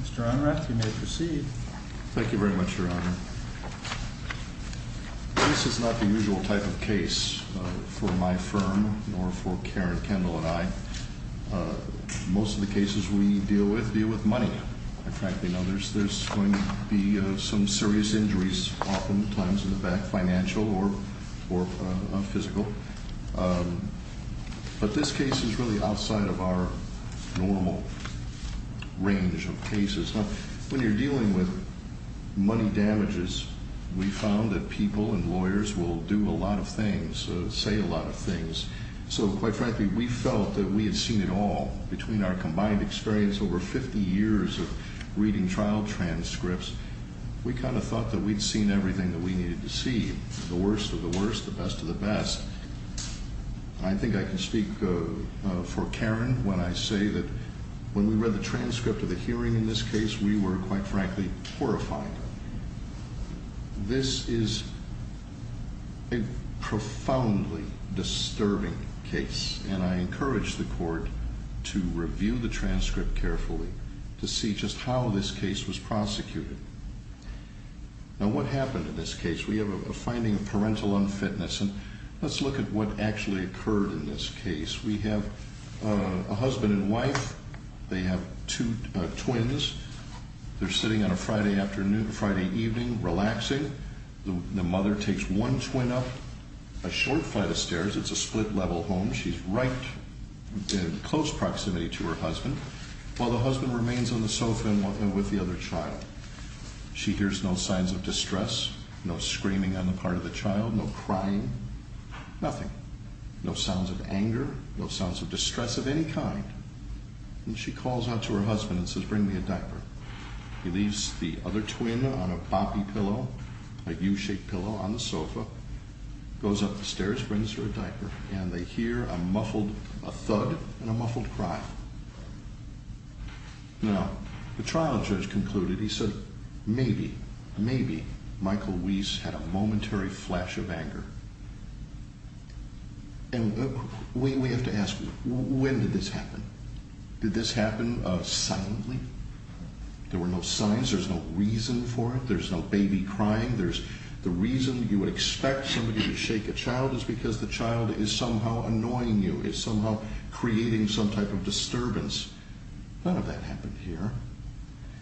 Mr. Onrath, you may proceed. Thank you very much, Your Honor. This is not the usual type of case for my firm, nor for Karen, Kendall, and I. Most of the cases we deal with deal with money, quite frankly, and others. There's going to be some serious injuries, often times in the back, financial or physical, but this case is really outside of our normal range of cases. Now, when you're dealing with money damages, we found that people and lawyers will do a lot of things, say a lot of things, so quite frankly, we felt that we had seen it all. Between our combined experience over 50 years of reading trial transcripts, we kind of thought that we'd seen everything that we needed to see, the worst of the worst, the best of the best. I think I can speak for Karen when I say that when we read the transcript of the hearing in this case, we were, quite frankly, horrified. This is a profoundly disturbing case, and I encourage the Court to review the transcript carefully, to see just how this case was prosecuted. Now, what happened in this case? We have a finding of parental unfitness, and let's look at what actually occurred in this case. We have a husband and wife. They have two twins. They're sitting on a Friday evening, relaxing. The mother takes one twin up a short flight of stairs. It's a split-level home. She's right in close proximity to her husband, while the husband remains on the sofa with the other child. She hears no signs of distress, no screaming on the part of the child, no crying, nothing. No sounds of anger, no sounds of distress of any kind. She calls out to her husband and says, bring me a diaper. He leaves the other twin on a boppy pillow, a U-shaped pillow, on the sofa, goes up the stairs, brings her a diaper, and they hear a muffled thud and a muffled cry. Now, the trial judge concluded, he said, maybe, maybe Michael Weiss had a momentary flash of anger. And we have to ask, when did this happen? Did this happen silently? There were no signs. There's no reason for it. There's no baby crying. There's the reason you would expect somebody to shake a child is because the child is somehow annoying you, is somehow creating some type of disturbance. None of that happened here.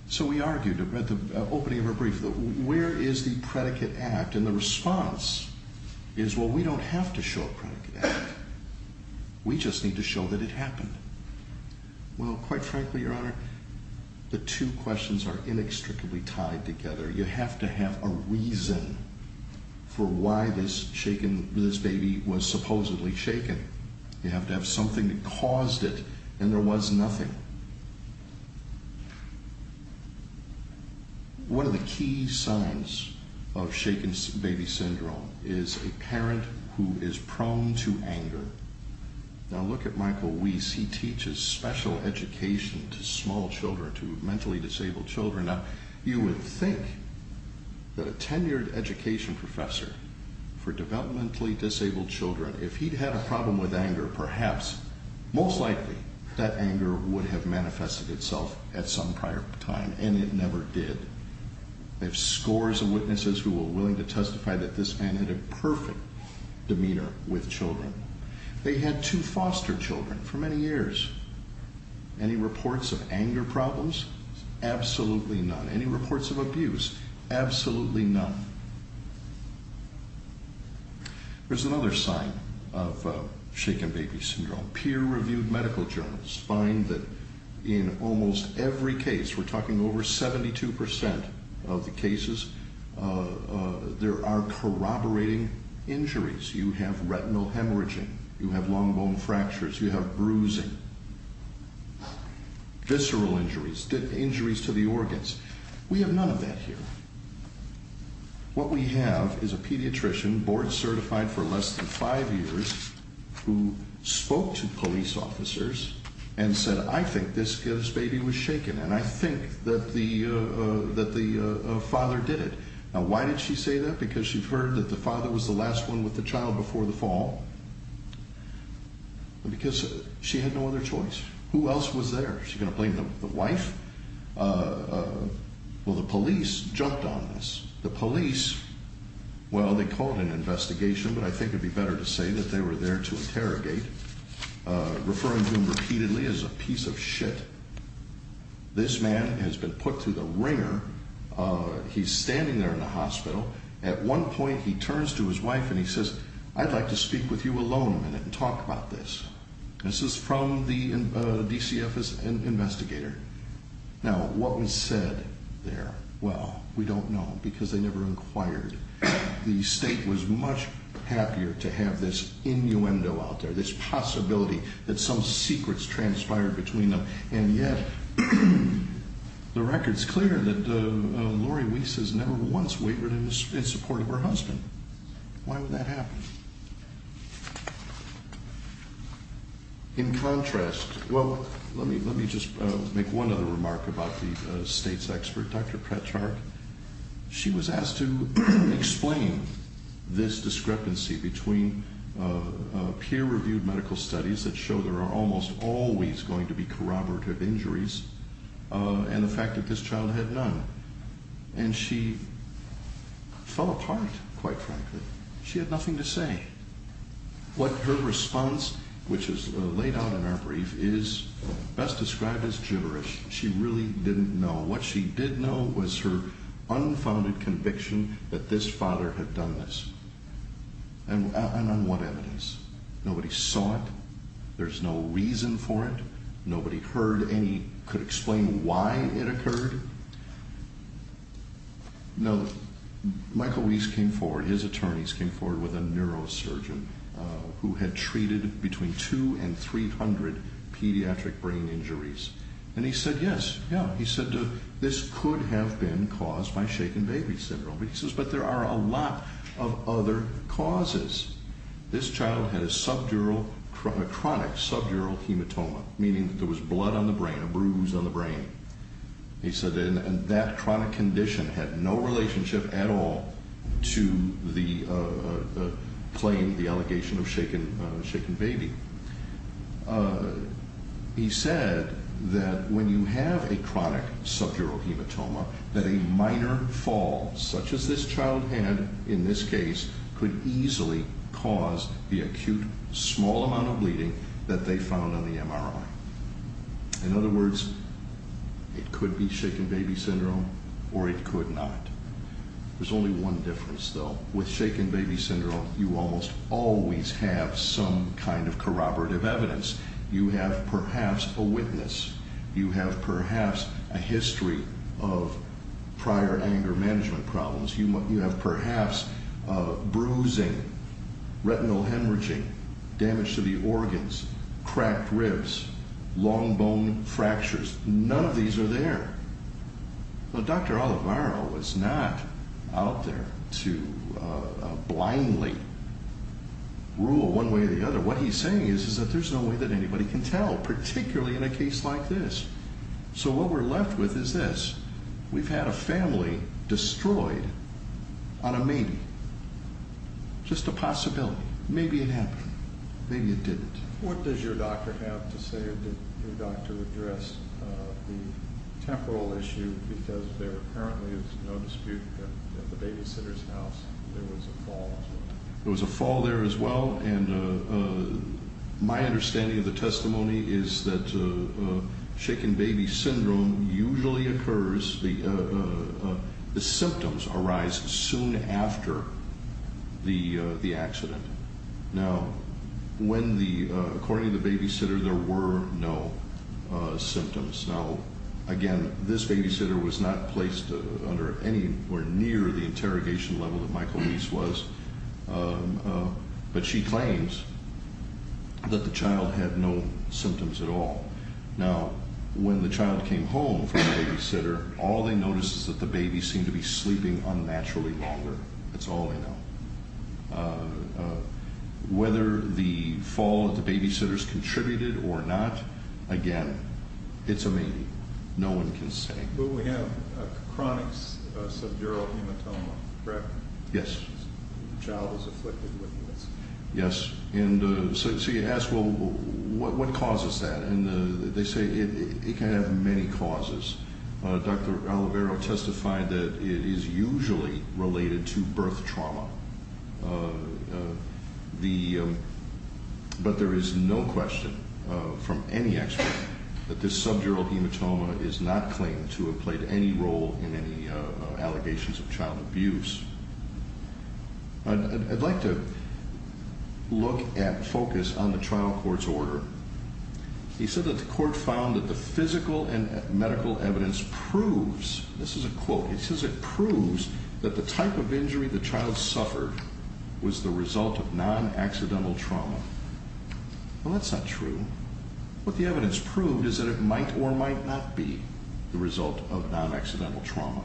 So we argued at the opening of her brief, where is the predicate act? And the response is, well, we don't have to show a predicate act. We just need to show that it happened. Well, quite frankly, Your Honor, the two questions are inextricably tied together. You have to have a reason for why this baby was supposedly shaken. You have to have something that caused it, and there was nothing. One of the key signs of shaken baby syndrome is a parent who is prone to anger. Now, look at Michael Weiss. He teaches special education to small children, to mentally disabled children. Now, you would think that a tenured education professor for developmentally disabled children, if he'd had a problem with anger, perhaps, most likely, that anger would have manifested itself at some prior time, and it never did. I have scores of witnesses who were willing to testify that this man had a perfect demeanor with children. They had two foster children for many years. Any reports of anger problems? Absolutely none. Any reports of abuse? Absolutely none. There's another sign of shaken baby syndrome. Peer-reviewed medical journals find that in almost every case, we're talking over 72% of the cases, there are corroborating injuries. You have retinal hemorrhaging, you have long bone fractures, you have bruising, visceral injuries, injuries to the organs. We have none of that here. What we have is a pediatrician, board certified for less than five years, who spoke to police officers and said, I think this baby was shaken, and I think that the father did it. Now, why did she say that? Because she'd heard that the father was the last one with the child before the fall. Because she had no other choice. Who else was there? Is she going to blame the wife? Well, the police jumped on this. The police, well, they called an investigation, but I think it would be better to say that they were there to interrogate, referring to him repeatedly as a piece of shit. This man has been put through the wringer. He's standing there in the hospital. At one point, he turns to his wife and he says, I'd like to speak with you alone a minute and talk about this. This is from the DCF investigator. Now, what was said there? Well, we don't know because they never inquired. The state was much happier to have this innuendo out there, this possibility that some secrets transpired between them. And yet, the record's clear that Lori Weiss has never once wavered in support of her husband. Why would that happen? In contrast, well, let me just make one other remark about the state's expert, Dr. Pratchard. She was asked to explain this discrepancy between peer-reviewed medical studies that show there are almost always going to be corroborative injuries and the fact that this child had none. And she fell apart, quite frankly. She had nothing to say. What her response, which is laid out in our brief, is best described as gibberish. She really didn't know. What she did know was her unfounded conviction that this father had done this. And on what evidence? Nobody saw it. There's no reason for it. Nobody heard any, could explain why it occurred. Now, Michael Weiss came forward, his attorneys came forward with a neurosurgeon who had treated between 200 and 300 pediatric brain injuries. And he said, yes, yeah. He said this could have been caused by shaken baby syndrome. But he says, but there are a lot of other causes. This child had a chronic subdural hematoma, meaning that there was blood on the brain, a bruise on the brain. He said that chronic condition had no relationship at all to the allegation of shaken baby. He said that when you have a chronic subdural hematoma, that a minor fall, such as this child had in this case, could easily cause the acute small amount of bleeding that they found on the MRI. In other words, it could be shaken baby syndrome or it could not. There's only one difference, though. With shaken baby syndrome, you almost always have some kind of corroborative evidence. You have perhaps a witness. You have perhaps a history of prior anger management problems. You have perhaps bruising, retinal hemorrhaging, damage to the organs, cracked ribs, long bone fractures. None of these are there. Dr. Oliveira was not out there to blindly rule one way or the other. What he's saying is that there's no way that anybody can tell, particularly in a case like this. So what we're left with is this. We've had a family destroyed on a maybe, just a possibility. Maybe it happened. Maybe it didn't. What does your doctor have to say? Did your doctor address the temporal issue? Because there apparently is no dispute that at the babysitter's house there was a fall as well. Well, and my understanding of the testimony is that shaken baby syndrome usually occurs, the symptoms arise soon after the accident. Now, according to the babysitter, there were no symptoms. Now, again, this babysitter was not placed anywhere near the interrogation level that my police was. But she claims that the child had no symptoms at all. Now, when the child came home from the babysitter, all they noticed is that the baby seemed to be sleeping unnaturally longer. That's all they know. Whether the fall at the babysitter's contributed or not, again, it's a maybe. No one can say. Yes? The child was afflicted with this. Yes. And so you ask, well, what causes that? And they say it can have many causes. Dr. Olivero testified that it is usually related to birth trauma. But there is no question from any expert that this subdural hematoma is not claimed to have played any role in any allegations of child abuse. I'd like to look at focus on the trial court's order. He said that the court found that the physical and medical evidence proves, this is a quote, it says it proves that the type of injury the child suffered was the result of non-accidental trauma. Well, that's not true. What the evidence proved is that it might or might not be the result of non-accidental trauma.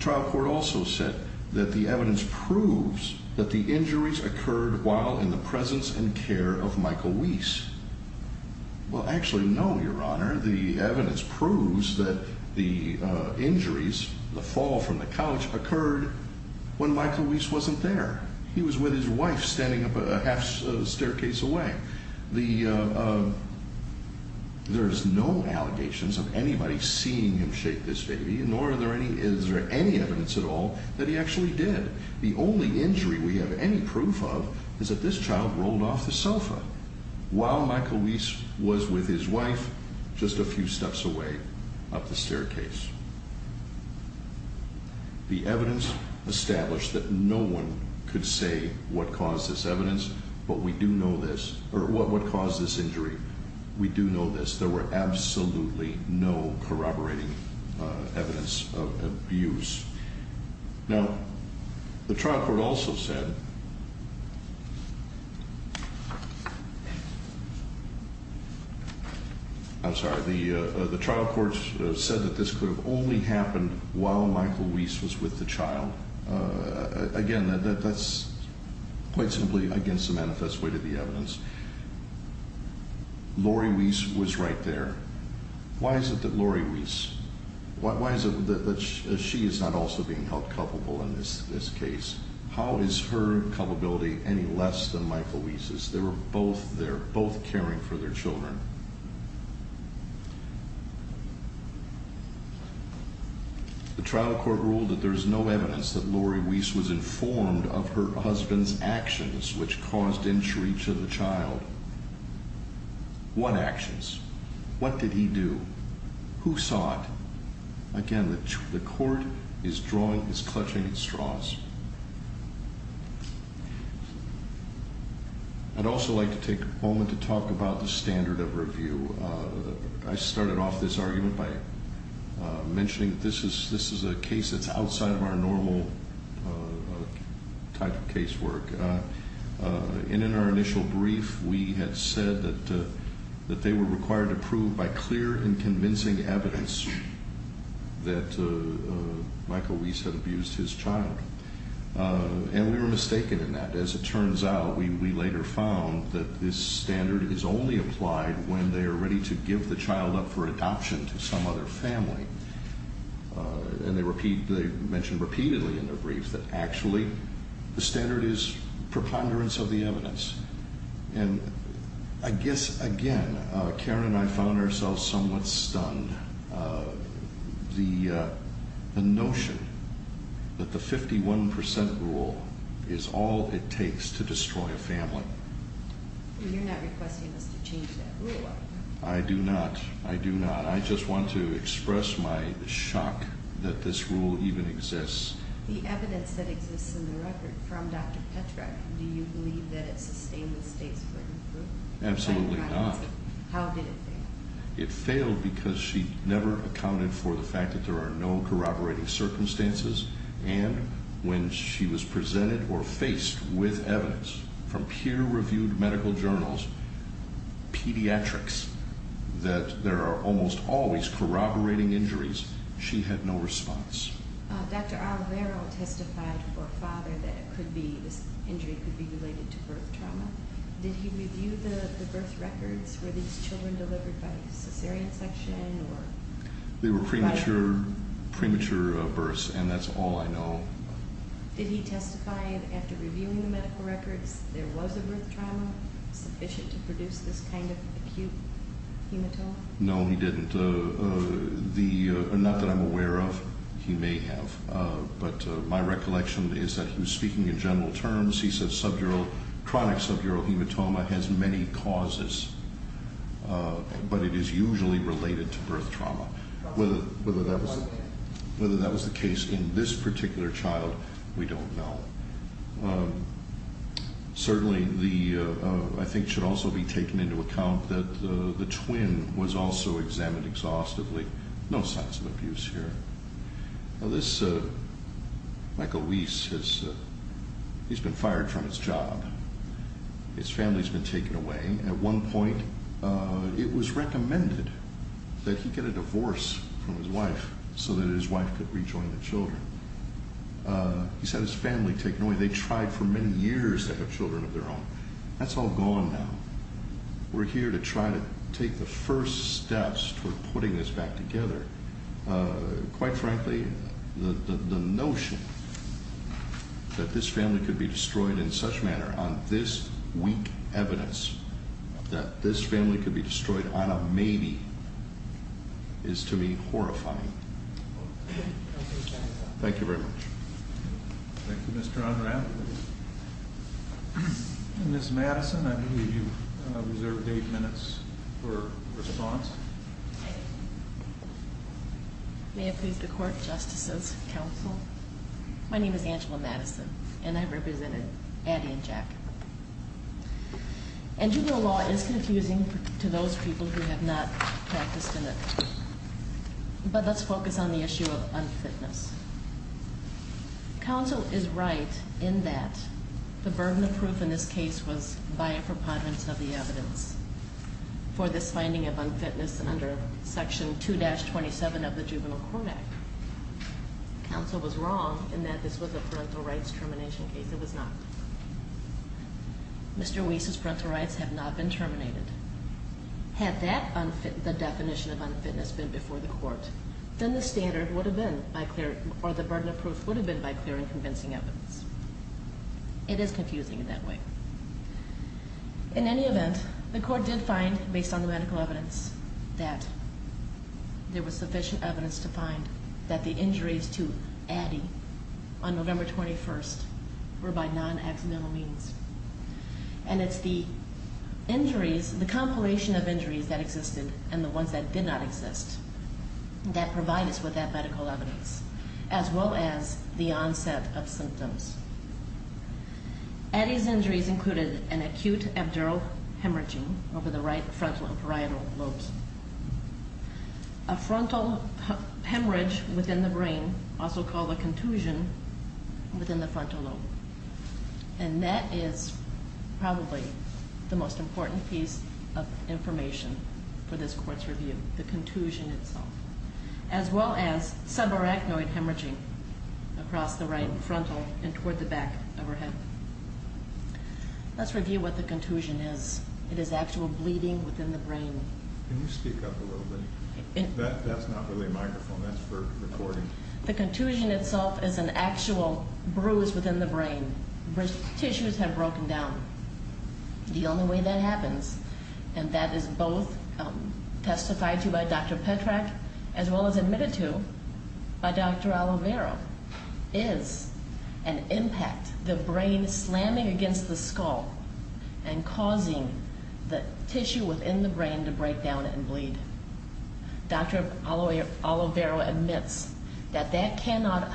Trial court also said that the evidence proves that the injuries occurred while in the presence and care of Michael Wiese. Well, actually, no, Your Honor. The evidence proves that the injuries, the fall from the couch, occurred when Michael Wiese wasn't there. He was with his wife standing up a half staircase away. There's no allegations of anybody seeing him shake this baby, nor is there any evidence at all that he actually did. The only injury we have any proof of is that this child rolled off the sofa. While Michael Wiese was with his wife, just a few steps away up the staircase. The evidence established that no one could say what caused this injury. We do know this. There were absolutely no corroborating evidence of abuse. Now, the trial court also said... I'm sorry. The trial court said that this could have only happened while Michael Wiese was with the child. Again, that's quite simply against the manifest way to the evidence. Lori Wiese was right there. Why is it that Lori Wiese... Why is it that she is not also being held culpable in this case? How is her culpability any less than Michael Wiese's? They were both there, both caring for their children. The trial court ruled that there is no evidence that Lori Wiese was informed of her husband's actions which caused injury to the child. What actions? What did he do? Who saw it? Again, the court is drawing, is clutching its straws. I'd also like to take a moment to talk about the standard of review. I started off this argument by mentioning that this is a case that's outside of our normal type of case work. In our initial brief, we had said that they were required to prove by clear and convincing evidence that Michael Wiese had abused his child. And we were mistaken in that. As it turns out, we later found that this standard is only applied when they are ready to give the child up for adoption to some other family. And they mentioned repeatedly in their brief that actually the standard is preponderance of the evidence. And I guess, again, Karen and I found ourselves somewhat stunned. The notion that the 51% rule is all it takes to destroy a family. You're not requesting us to change that rule, are you? I do not. I do not. I'd like to express my shock that this rule even exists. The evidence that exists in the record from Dr. Petrak, do you believe that it sustains the state's written rule? Absolutely not. How did it fail? It failed because she never accounted for the fact that there are no corroborating circumstances. And when she was presented or faced with evidence from peer-reviewed medical journals, pediatrics, that there are almost always corroborating injuries, she had no response. Dr. Alvaro testified for a father that this injury could be related to birth trauma. Did he review the birth records? Were these children delivered by cesarean section? They were premature births, and that's all I know. Did he testify after reviewing the medical records there was a birth trauma sufficient to produce this kind of acute hematoma? No, he didn't. Not that I'm aware of. He may have. But my recollection is that he was speaking in general terms. He said chronic subdural hematoma has many causes. But it is usually related to birth trauma. Whether that was the case in this particular child, we don't know. Certainly, I think it should also be taken into account that the twin was also examined exhaustively. No signs of abuse here. Michael Weiss, he's been fired from his job. His family's been taken away. At one point, it was recommended that he get a divorce from his wife so that his wife could rejoin the children. He said his family taken away. They tried for many years to have children of their own. That's all gone now. We're here to try to take the first steps toward putting this back together. Quite frankly, the notion that this family could be destroyed in such manner on this weak evidence, that this family could be destroyed on a maybe, is to me horrifying. Thank you very much. Thank you, Mr. Unrapp. Ms. Madison, I believe you reserved eight minutes for response. May it please the Court, Justices, Counsel. My name is Angela Madison, and I represented Addie and Jack. And juvenile law is confusing to those people who have not practiced in it. But let's focus on the issue of unfitness. Counsel is right in that the burden of proof in this case was by a preponderance of the evidence. For this finding of unfitness under Section 2-27 of the Juvenile Court Act. Counsel was wrong in that this was a parental rights termination case. It was not. Mr. Weiss's parental rights have not been terminated. Had the definition of unfitness been before the Court, then the standard would have been by clear, or the burden of proof would have been by clear and convincing evidence. It is confusing in that way. In any event, the Court did find, based on the medical evidence, that there was sufficient evidence to find that the injuries to Addie on November 21st were by non-accidental means. And it's the injuries, the compilation of injuries that existed and the ones that did not exist, that provide us with that medical evidence, as well as the onset of symptoms. Addie's injuries included an acute abdural hemorrhaging over the right frontal and parietal lobes. A frontal hemorrhage within the brain, also called a contusion, within the frontal lobe. And that is probably the most important piece of information for this Court's review, the contusion itself. As well as subarachnoid hemorrhaging across the right frontal and toward the back of her head. Let's review what the contusion is. It is actual bleeding within the brain. Can you speak up a little bit? That's not really a microphone, that's for recording. The contusion itself is an actual bruise within the brain. Tissues have broken down. The only way that happens, and that is both testified to by Dr. Petrak as well as admitted to by Dr. Oliveira, is an impact, the brain slamming against the skull and causing the tissue within the brain to break down and bleed. Dr. Oliveira admits that that cannot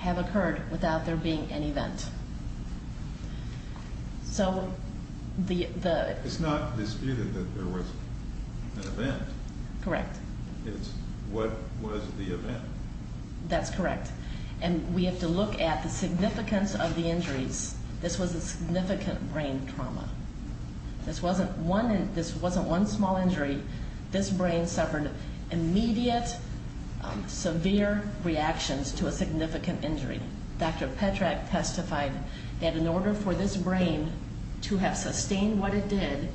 have occurred without there being an event. It's not disputed that there was an event. Correct. It's what was the event. That's correct. And we have to look at the significance of the injuries. This was a significant brain trauma. This wasn't one small injury. This brain suffered immediate, severe reactions to a significant injury. Dr. Petrak testified that in order for this brain to have sustained what it did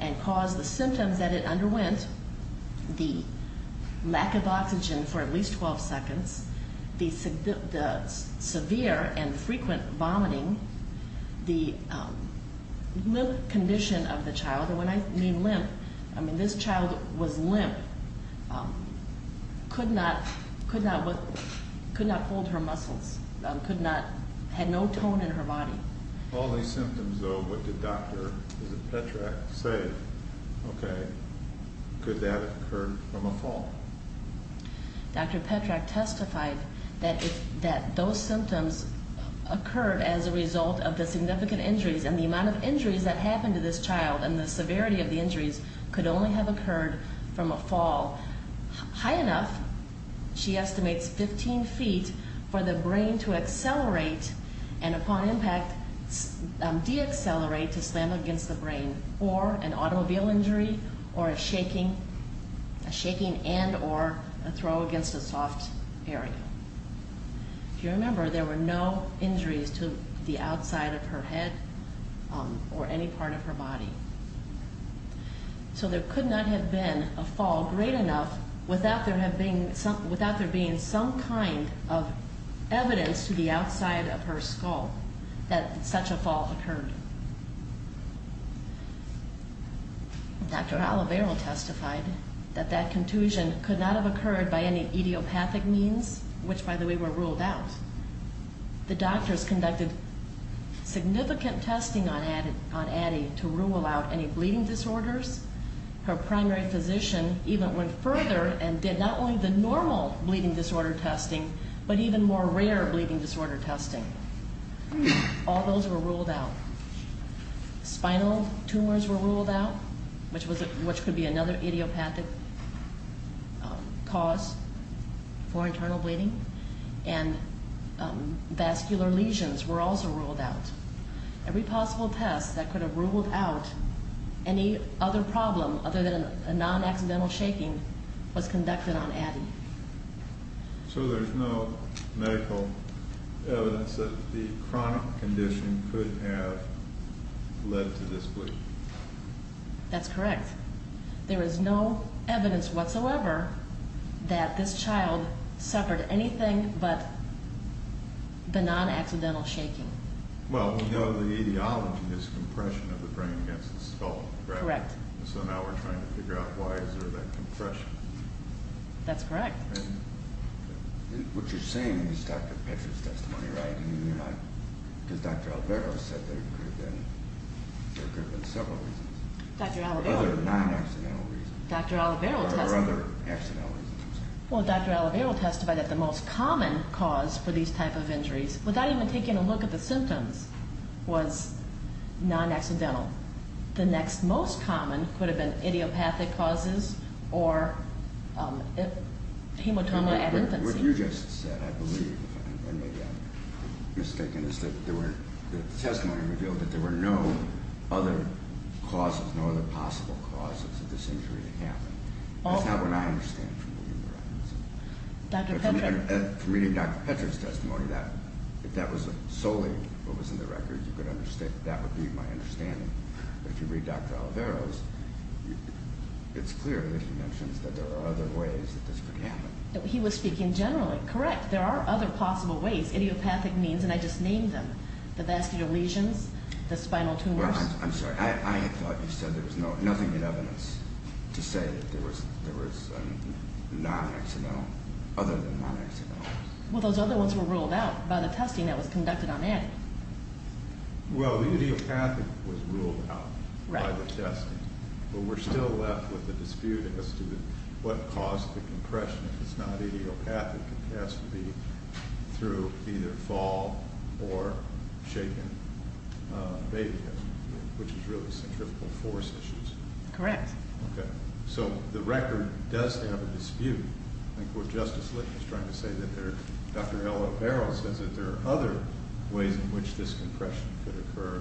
and caused the symptoms that it underwent, the lack of oxygen for at least 12 seconds, the severe and frequent vomiting, the limp condition of the child, and when I mean limp, I mean this child was limp, could not hold her muscles, had no tone in her body. All these symptoms, though, what did Dr. Petrak say, okay, could that have occurred from a fall? Dr. Petrak testified that those symptoms occurred as a result of the significant injuries and the amount of injuries that happened to this child and the severity of the injuries could only have occurred from a fall high enough, she estimates, 15 feet for the brain to accelerate and upon impact deaccelerate to slam against the brain or an automobile injury or a shaking and or a throw against a soft area. If you remember, there were no injuries to the outside of her head or any part of her body. So there could not have been a fall great enough without there being some kind of evidence to the outside of her skull that such a fall occurred. Dr. Olivero testified that that contusion could not have occurred by any idiopathic means, which, by the way, were ruled out. The doctors conducted significant testing on Addie to rule out any bleeding disorders. Her primary physician even went further and did not only the normal bleeding disorder testing but even more rare bleeding disorder testing. All those were ruled out. Spinal tumors were ruled out, which could be another idiopathic cause for internal bleeding, and vascular lesions were also ruled out. Every possible test that could have ruled out any other problem other than a non-accidental shaking was conducted on Addie. So there's no medical evidence that the chronic condition could have led to this bleeding? That's correct. There is no evidence whatsoever that this child suffered anything but the non-accidental shaking. Well, we know the etiology is compression of the brain against the skull, correct? Correct. So now we're trying to figure out why is there that compression? That's correct. What you're saying is Dr. Petra's testimony, right? And you're not, because Dr. Alvaro said there could have been several reasons. Dr. Alvaro. Other non-accidental reasons. Dr. Alvaro testified. Or other accidental reasons. Well, Dr. Alvaro testified that the most common cause for these type of injuries, without even taking a look at the symptoms, was non-accidental. The next most common could have been idiopathic causes or hematoma ad infancy. What you just said, I believe, and maybe I'm mistaken, is that the testimony revealed that there were no other causes, no other possible causes of this injury to happen. That's not what I understand from reading the records. Dr. Petra. From reading Dr. Petra's testimony, if that was solely what was in the records, that would be my understanding. If you read Dr. Alvaro's, it's clear that he mentions that there are other ways that this could happen. He was speaking generally. Correct. There are other possible ways, idiopathic means, and I just named them. The vascular lesions, the spinal tumors. I'm sorry. I thought you said there was nothing in evidence to say that there was non-accidental, other than non-accidental. Well, those other ones were ruled out by the testing that was conducted on Addie. Well, idiopathic was ruled out by the testing, but we're still left with the dispute as to what caused the compression. If it's not idiopathic, it has to be through either fall or shaken baby, which is really centrifugal force issues. Correct. Okay. So the record does have a dispute. I think what Justice Litton is trying to say is that Dr. Alvaro says that there are other ways in which this compression could occur,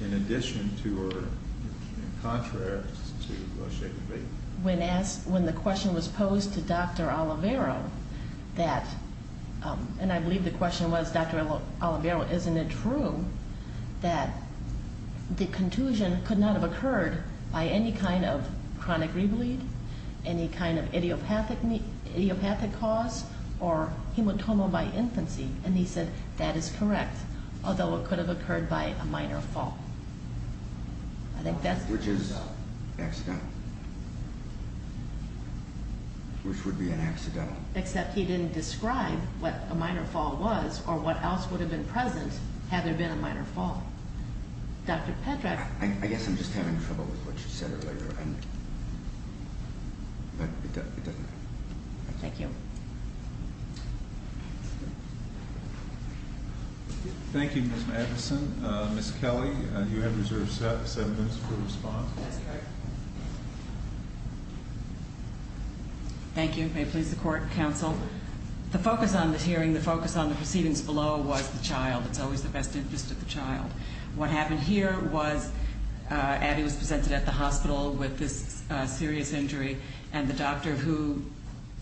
in addition to or in contrast to shaken baby. When the question was posed to Dr. Alvaro, and I believe the question was, Dr. Alvaro, isn't it true that the contusion could not have occurred by any kind of chronic re-bleed, any kind of idiopathic cause, or hematoma by infancy? And he said that is correct, although it could have occurred by a minor fall. Which is accidental. Which would be an accidental. Except he didn't describe what a minor fall was or what else would have been present had there been a minor fall. Dr. Pedrack. I guess I'm just having trouble with what you said earlier. Thank you. Thank you, Ms. Madison. Ms. Kelly, you have reserved seven minutes to respond. That's correct. Thank you. May it please the court and counsel. The focus on this hearing, the focus on the proceedings below, was the child. It's always the best interest of the child. What happened here was Abby was presented at the hospital with this serious injury, and the doctor who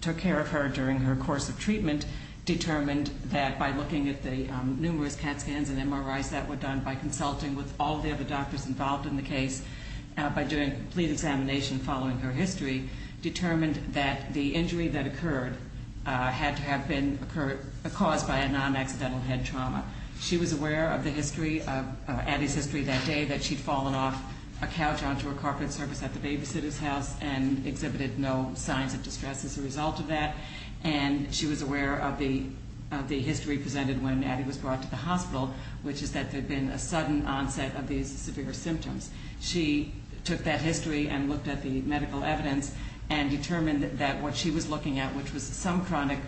took care of her during her course of treatment determined that by looking at the numerous CAT scans and MRIs that were done, by consulting with all the other doctors involved in the case, by doing complete examination following her history, determined that the injury that occurred had to have been caused by a non-accidental head trauma. She was aware of the history, of Abby's history that day, that she'd fallen off a couch onto a carpet surface at the babysitter's house and exhibited no signs of distress as a result of that. And she was aware of the history presented when Abby was brought to the hospital, which is that there had been a sudden onset of these severe symptoms. She took that history and looked at the medical evidence and determined that what she was looking at, which was some chronic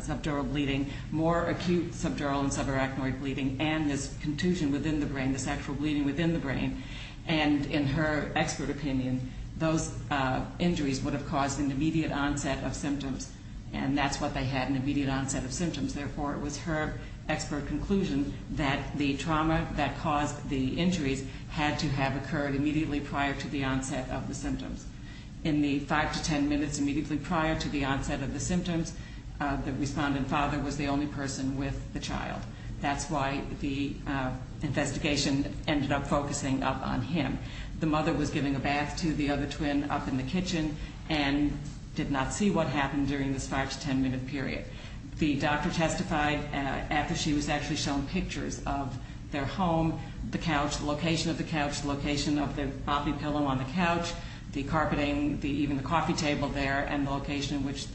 subdural bleeding, more acute subdural and subarachnoid bleeding, and this contusion within the brain, this actual bleeding within the brain, and in her expert opinion, those injuries would have caused an immediate onset of symptoms, and that's what they had, an immediate onset of symptoms. Therefore, it was her expert conclusion that the trauma that caused the injuries had to have occurred immediately prior to the onset of the symptoms. In the 5 to 10 minutes immediately prior to the onset of the symptoms, the respondent father was the only person with the child. That's why the investigation ended up focusing up on him. The mother was giving a bath to the other twin up in the kitchen and did not see what happened during this 5 to 10 minute period. The doctor testified after she was actually shown pictures of their home, the couch, the location of the couch, the location of the boppy pillow on the couch, the carpeting, even the coffee table there, and the location in which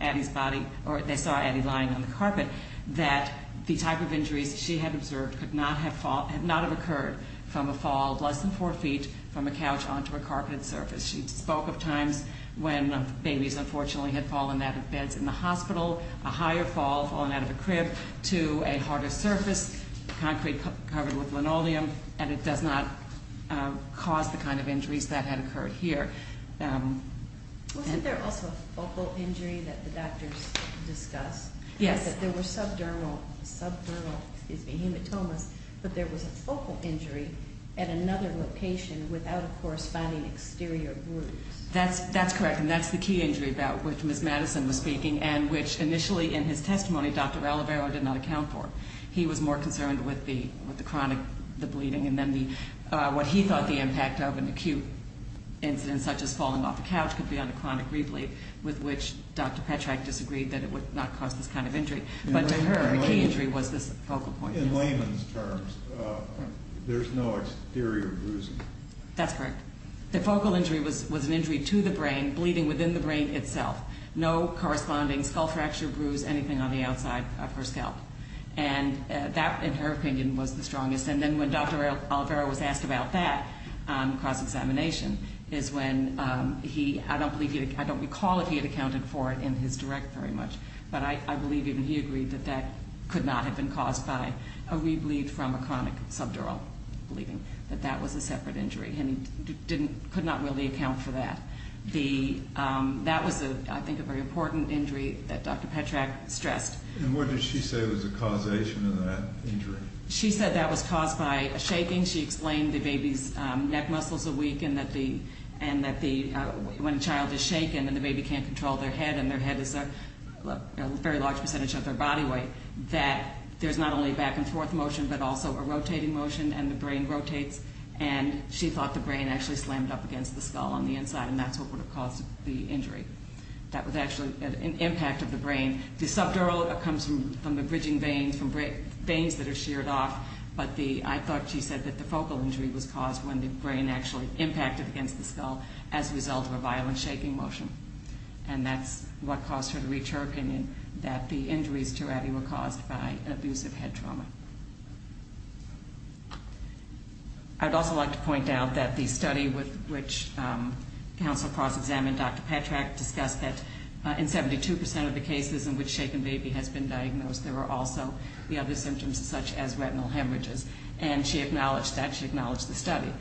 Addie's body or they saw Addie lying on the carpet, that the type of injuries she had observed could not have occurred from a fall She spoke of times when babies, unfortunately, had fallen out of beds in the hospital, a higher fall, fallen out of a crib, to a harder surface, concrete covered with linoleum, and it does not cause the kind of injuries that had occurred here. Wasn't there also a focal injury that the doctors discussed? Yes. There were subdermal hematomas, but there was a focal injury at another location without a corresponding exterior bruise. That's correct, and that's the key injury about which Ms. Madison was speaking and which initially, in his testimony, Dr. Alivero did not account for. He was more concerned with the chronic bleeding and then what he thought the impact of an acute incident such as falling off a couch could be on a chronic re-bleed, with which Dr. Petrack disagreed that it would not cause this kind of injury. But to her, a key injury was this focal point. In layman's terms, there's no exterior bruising. That's correct. The focal injury was an injury to the brain, bleeding within the brain itself, no corresponding skull fracture, bruise, anything on the outside of her scalp, and that, in her opinion, was the strongest. And then when Dr. Alivero was asked about that cross-examination is when he, I don't recall if he had accounted for it in his direct very much, but I believe even he agreed that that could not have been caused by a re-bleed from a chronic subdural bleeding, that that was a separate injury, and he could not really account for that. That was, I think, a very important injury that Dr. Petrack stressed. And what did she say was the causation of that injury? She said that was caused by shaking. She explained the baby's neck muscles are weak and that when a child is shaken and the baby can't control their head and their head is a very large percentage of their body weight, that there's not only back-and-forth motion but also a rotating motion and the brain rotates, and she thought the brain actually slammed up against the skull on the inside, and that's what would have caused the injury. That was actually an impact of the brain. The subdural comes from the bridging veins, from veins that are sheared off, but I thought she said that the focal injury was caused when the brain actually impacted against the skull as a result of a violent shaking motion. And that's what caused her to reach her opinion that the injuries to Abby were caused by an abusive head trauma. I'd also like to point out that the study with which Counsel Cross examined Dr. Petrack discussed that in 72% of the cases in which shaken baby has been diagnosed, there were also the other symptoms such as retinal hemorrhages, and she acknowledged that. She acknowledged the study.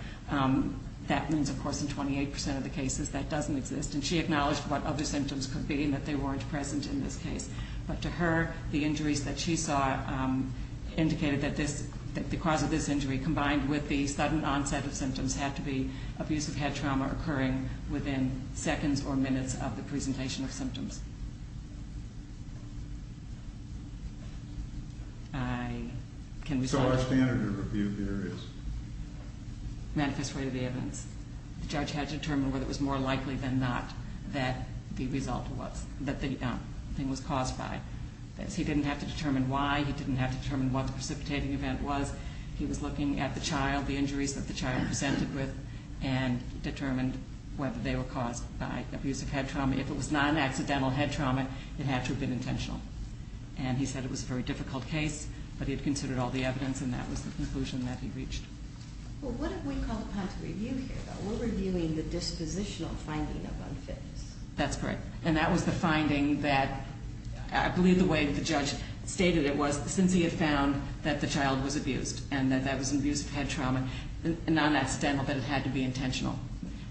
That means, of course, in 28% of the cases that doesn't exist, and she acknowledged what other symptoms could be and that they weren't present in this case. But to her, the injuries that she saw indicated that the cause of this injury, combined with the sudden onset of symptoms, had to be abusive head trauma occurring within seconds or minutes of the presentation of symptoms. Can we stop? So our standard of review here is? Manifest rate of the evidence. The judge had to determine whether it was more likely than not that the result was, that the thing was caused by. He didn't have to determine why. He didn't have to determine what the precipitating event was. He was looking at the child, the injuries that the child presented with, and determined whether they were caused by abusive head trauma. If it was non-accidental head trauma, it had to have been intentional. And he said it was a very difficult case, but he had considered all the evidence, and that was the conclusion that he reached. Well, what have we called upon to review here, though? We're reviewing the dispositional finding of unfitness. That's correct. And that was the finding that, I believe the way the judge stated it was, since he had found that the child was abused and that that was an abusive head trauma, non-accidental, that it had to be intentional.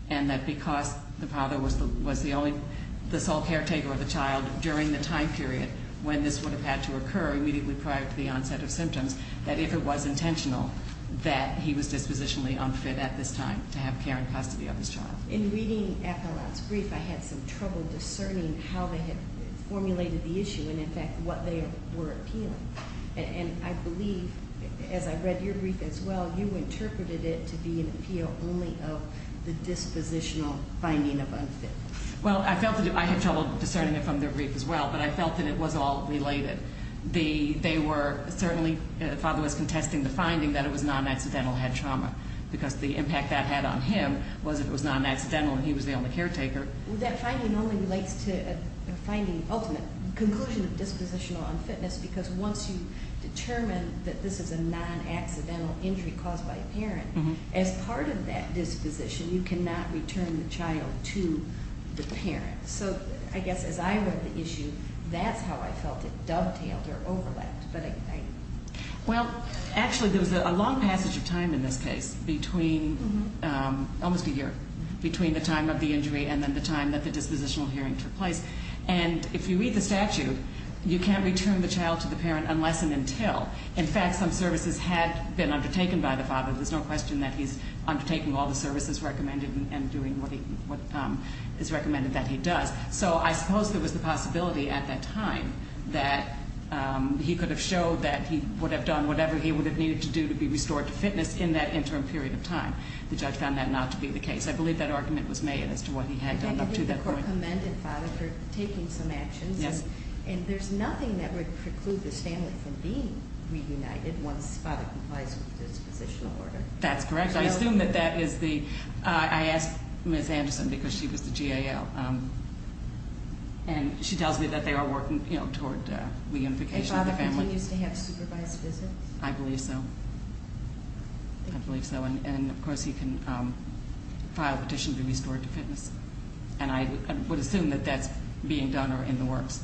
And that because the father was the sole caretaker of the child during the time period when this would have had to occur immediately prior to the onset of symptoms, that if it was intentional, that he was dispositionally unfit at this time to have care and custody of his child. In reading Athelan's brief, I had some trouble discerning how they had formulated the issue and, in fact, what they were appealing. And I believe, as I read your brief as well, you interpreted it to be an appeal only of the dispositional finding of unfit. Well, I felt that I had trouble discerning it from their brief as well, but I felt that it was all related. They were certainly, the father was contesting the finding that it was non-accidental head trauma because the impact that had on him was if it was non-accidental and he was the only caretaker. That finding only relates to a finding, ultimate conclusion of dispositional unfitness because once you determine that this is a non-accidental injury caused by a parent, as part of that disposition, you cannot return the child to the parent. So I guess as I read the issue, that's how I felt it dovetailed or overlapped. Well, actually, there was a long passage of time in this case between, almost a year, between the time of the injury and then the time that the dispositional hearing took place. And if you read the statute, you can't return the child to the parent unless and until. In fact, some services had been undertaken by the father. There's no question that he's undertaking all the services recommended and doing what is recommended that he does. So I suppose there was the possibility at that time that he could have showed that he would have done whatever he would have needed to do to be restored to fitness in that interim period of time. The judge found that not to be the case. I believe that argument was made as to what he had done up to that point. The court commended father for taking some actions. Yes. And there's nothing that would preclude the family from being reunited once father complies with the dispositional order. That's correct. I assume that that is the... I asked Ms. Anderson because she was the GAL. And she tells me that they are working toward reunification of the family. And father continues to have supervised visits? I believe so. I believe so. And, of course, he can file a petition to be restored to fitness. And I would assume that that's being done or in the works.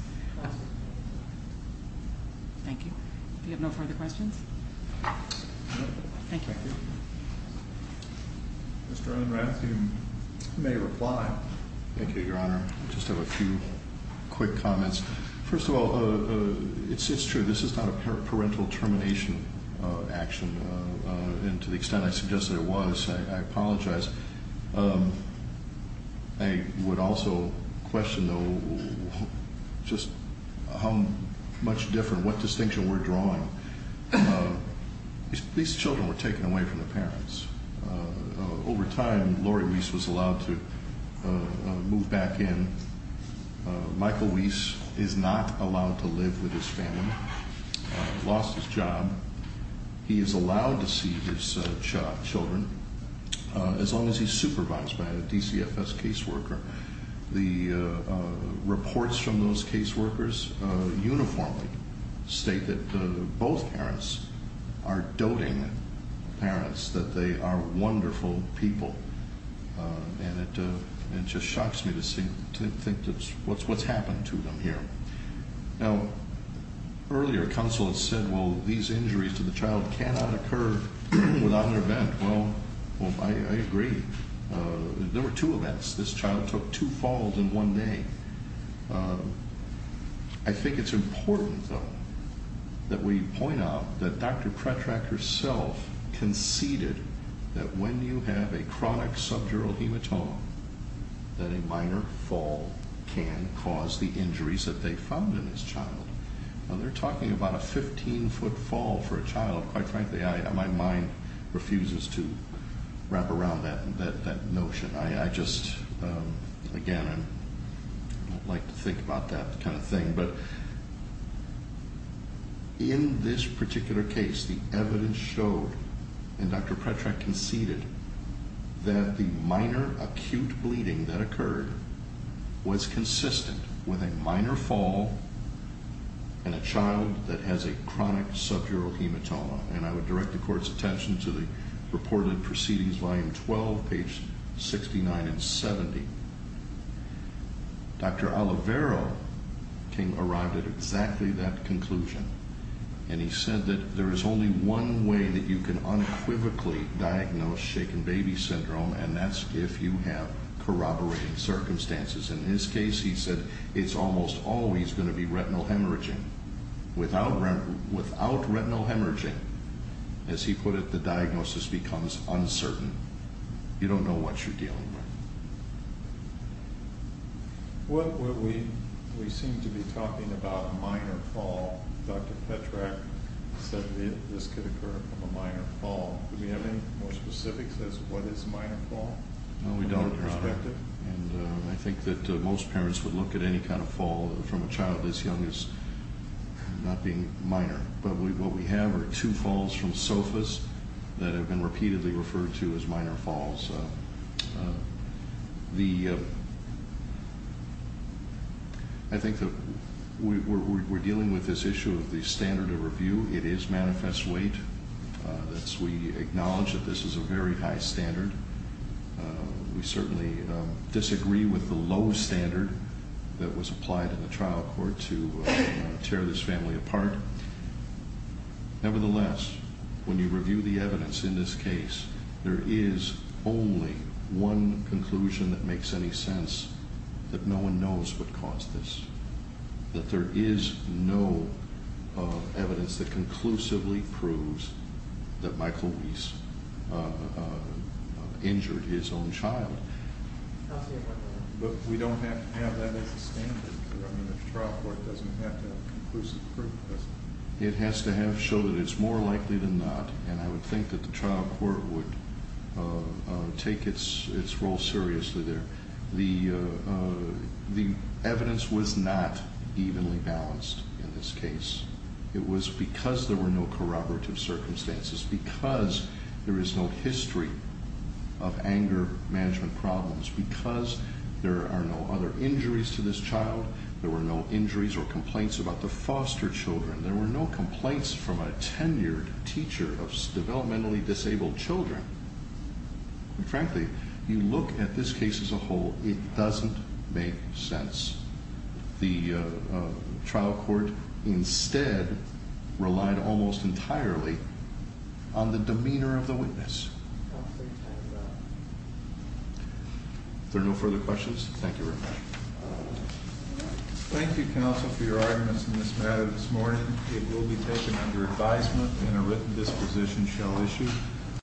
Thank you. Do we have no further questions? Thank you. Mr. Unrath, you may reply. Thank you, Your Honor. I just have a few quick comments. First of all, it's true. This is not a parental termination action. And to the extent I suggest that it was, I apologize. I would also question, though, just how much different, what distinction we're drawing. These children were taken away from the parents. Over time, Laurie Weiss was allowed to move back in. Michael Weiss is not allowed to live with his family. He lost his job. He is allowed to see his children. As long as he's supervised by a DCFS caseworker. The reports from those caseworkers uniformly state that both parents are doting parents, that they are wonderful people. And it just shocks me to think what's happened to them here. Now, earlier counsel has said, well, these injuries to the child cannot occur without an event. Well, I agree. There were two events. This child took two falls in one day. I think it's important, though, that we point out that Dr. Pretrak herself conceded that when you have a chronic subdural hematoma, that a minor fall can cause the injuries that they found in this child. Now, they're talking about a 15-foot fall for a child. Quite frankly, my mind refuses to wrap around that notion. I just, again, I don't like to think about that kind of thing. But in this particular case, the evidence showed, and Dr. Pretrak conceded, that the minor acute bleeding that occurred was consistent with a minor fall in a child that has a chronic subdural hematoma. And I would direct the court's attention to the reported proceedings, volume 12, page 69 and 70. Dr. Olivero arrived at exactly that conclusion, and he said that there is only one way that you can unquivocally diagnose shaken baby syndrome, and that's if you have corroborating circumstances. In his case, he said it's almost always going to be retinal hemorrhaging. Without retinal hemorrhaging, as he put it, the diagnosis becomes uncertain. You don't know what you're dealing with. We seem to be talking about a minor fall. Dr. Pretrak said this could occur from a minor fall. Do we have any more specifics as to what is a minor fall? No, we don't, Your Honor. And I think that most parents would look at any kind of fall from a child this young as not being minor. But what we have are two falls from sofas that have been repeatedly referred to as minor falls. I think that we're dealing with this issue of the standard of review. It is manifest weight. We acknowledge that this is a very high standard. We certainly disagree with the low standard that was applied in the trial court to tear this family apart. Nevertheless, when you review the evidence in this case, there is only one conclusion that makes any sense. That no one knows what caused this. That there is no evidence that conclusively proves that Michael Reese injured his own child. But we don't have that as a standard. The trial court doesn't have that conclusive proof, does it? It has to show that it's more likely than not. And I would think that the trial court would take its role seriously there. The evidence was not evenly balanced in this case. It was because there were no corroborative circumstances. Because there is no history of anger management problems. Because there are no other injuries to this child. There were no injuries or complaints about the foster children. There were no complaints from a tenured teacher of developmentally disabled children. Frankly, you look at this case as a whole, it doesn't make sense. The trial court instead relied almost entirely on the demeanor of the witness. Are there no further questions? Thank you very much. Thank you, counsel, for your arguments in this matter this morning. It will be taken under advisement and a written disposition shall issue.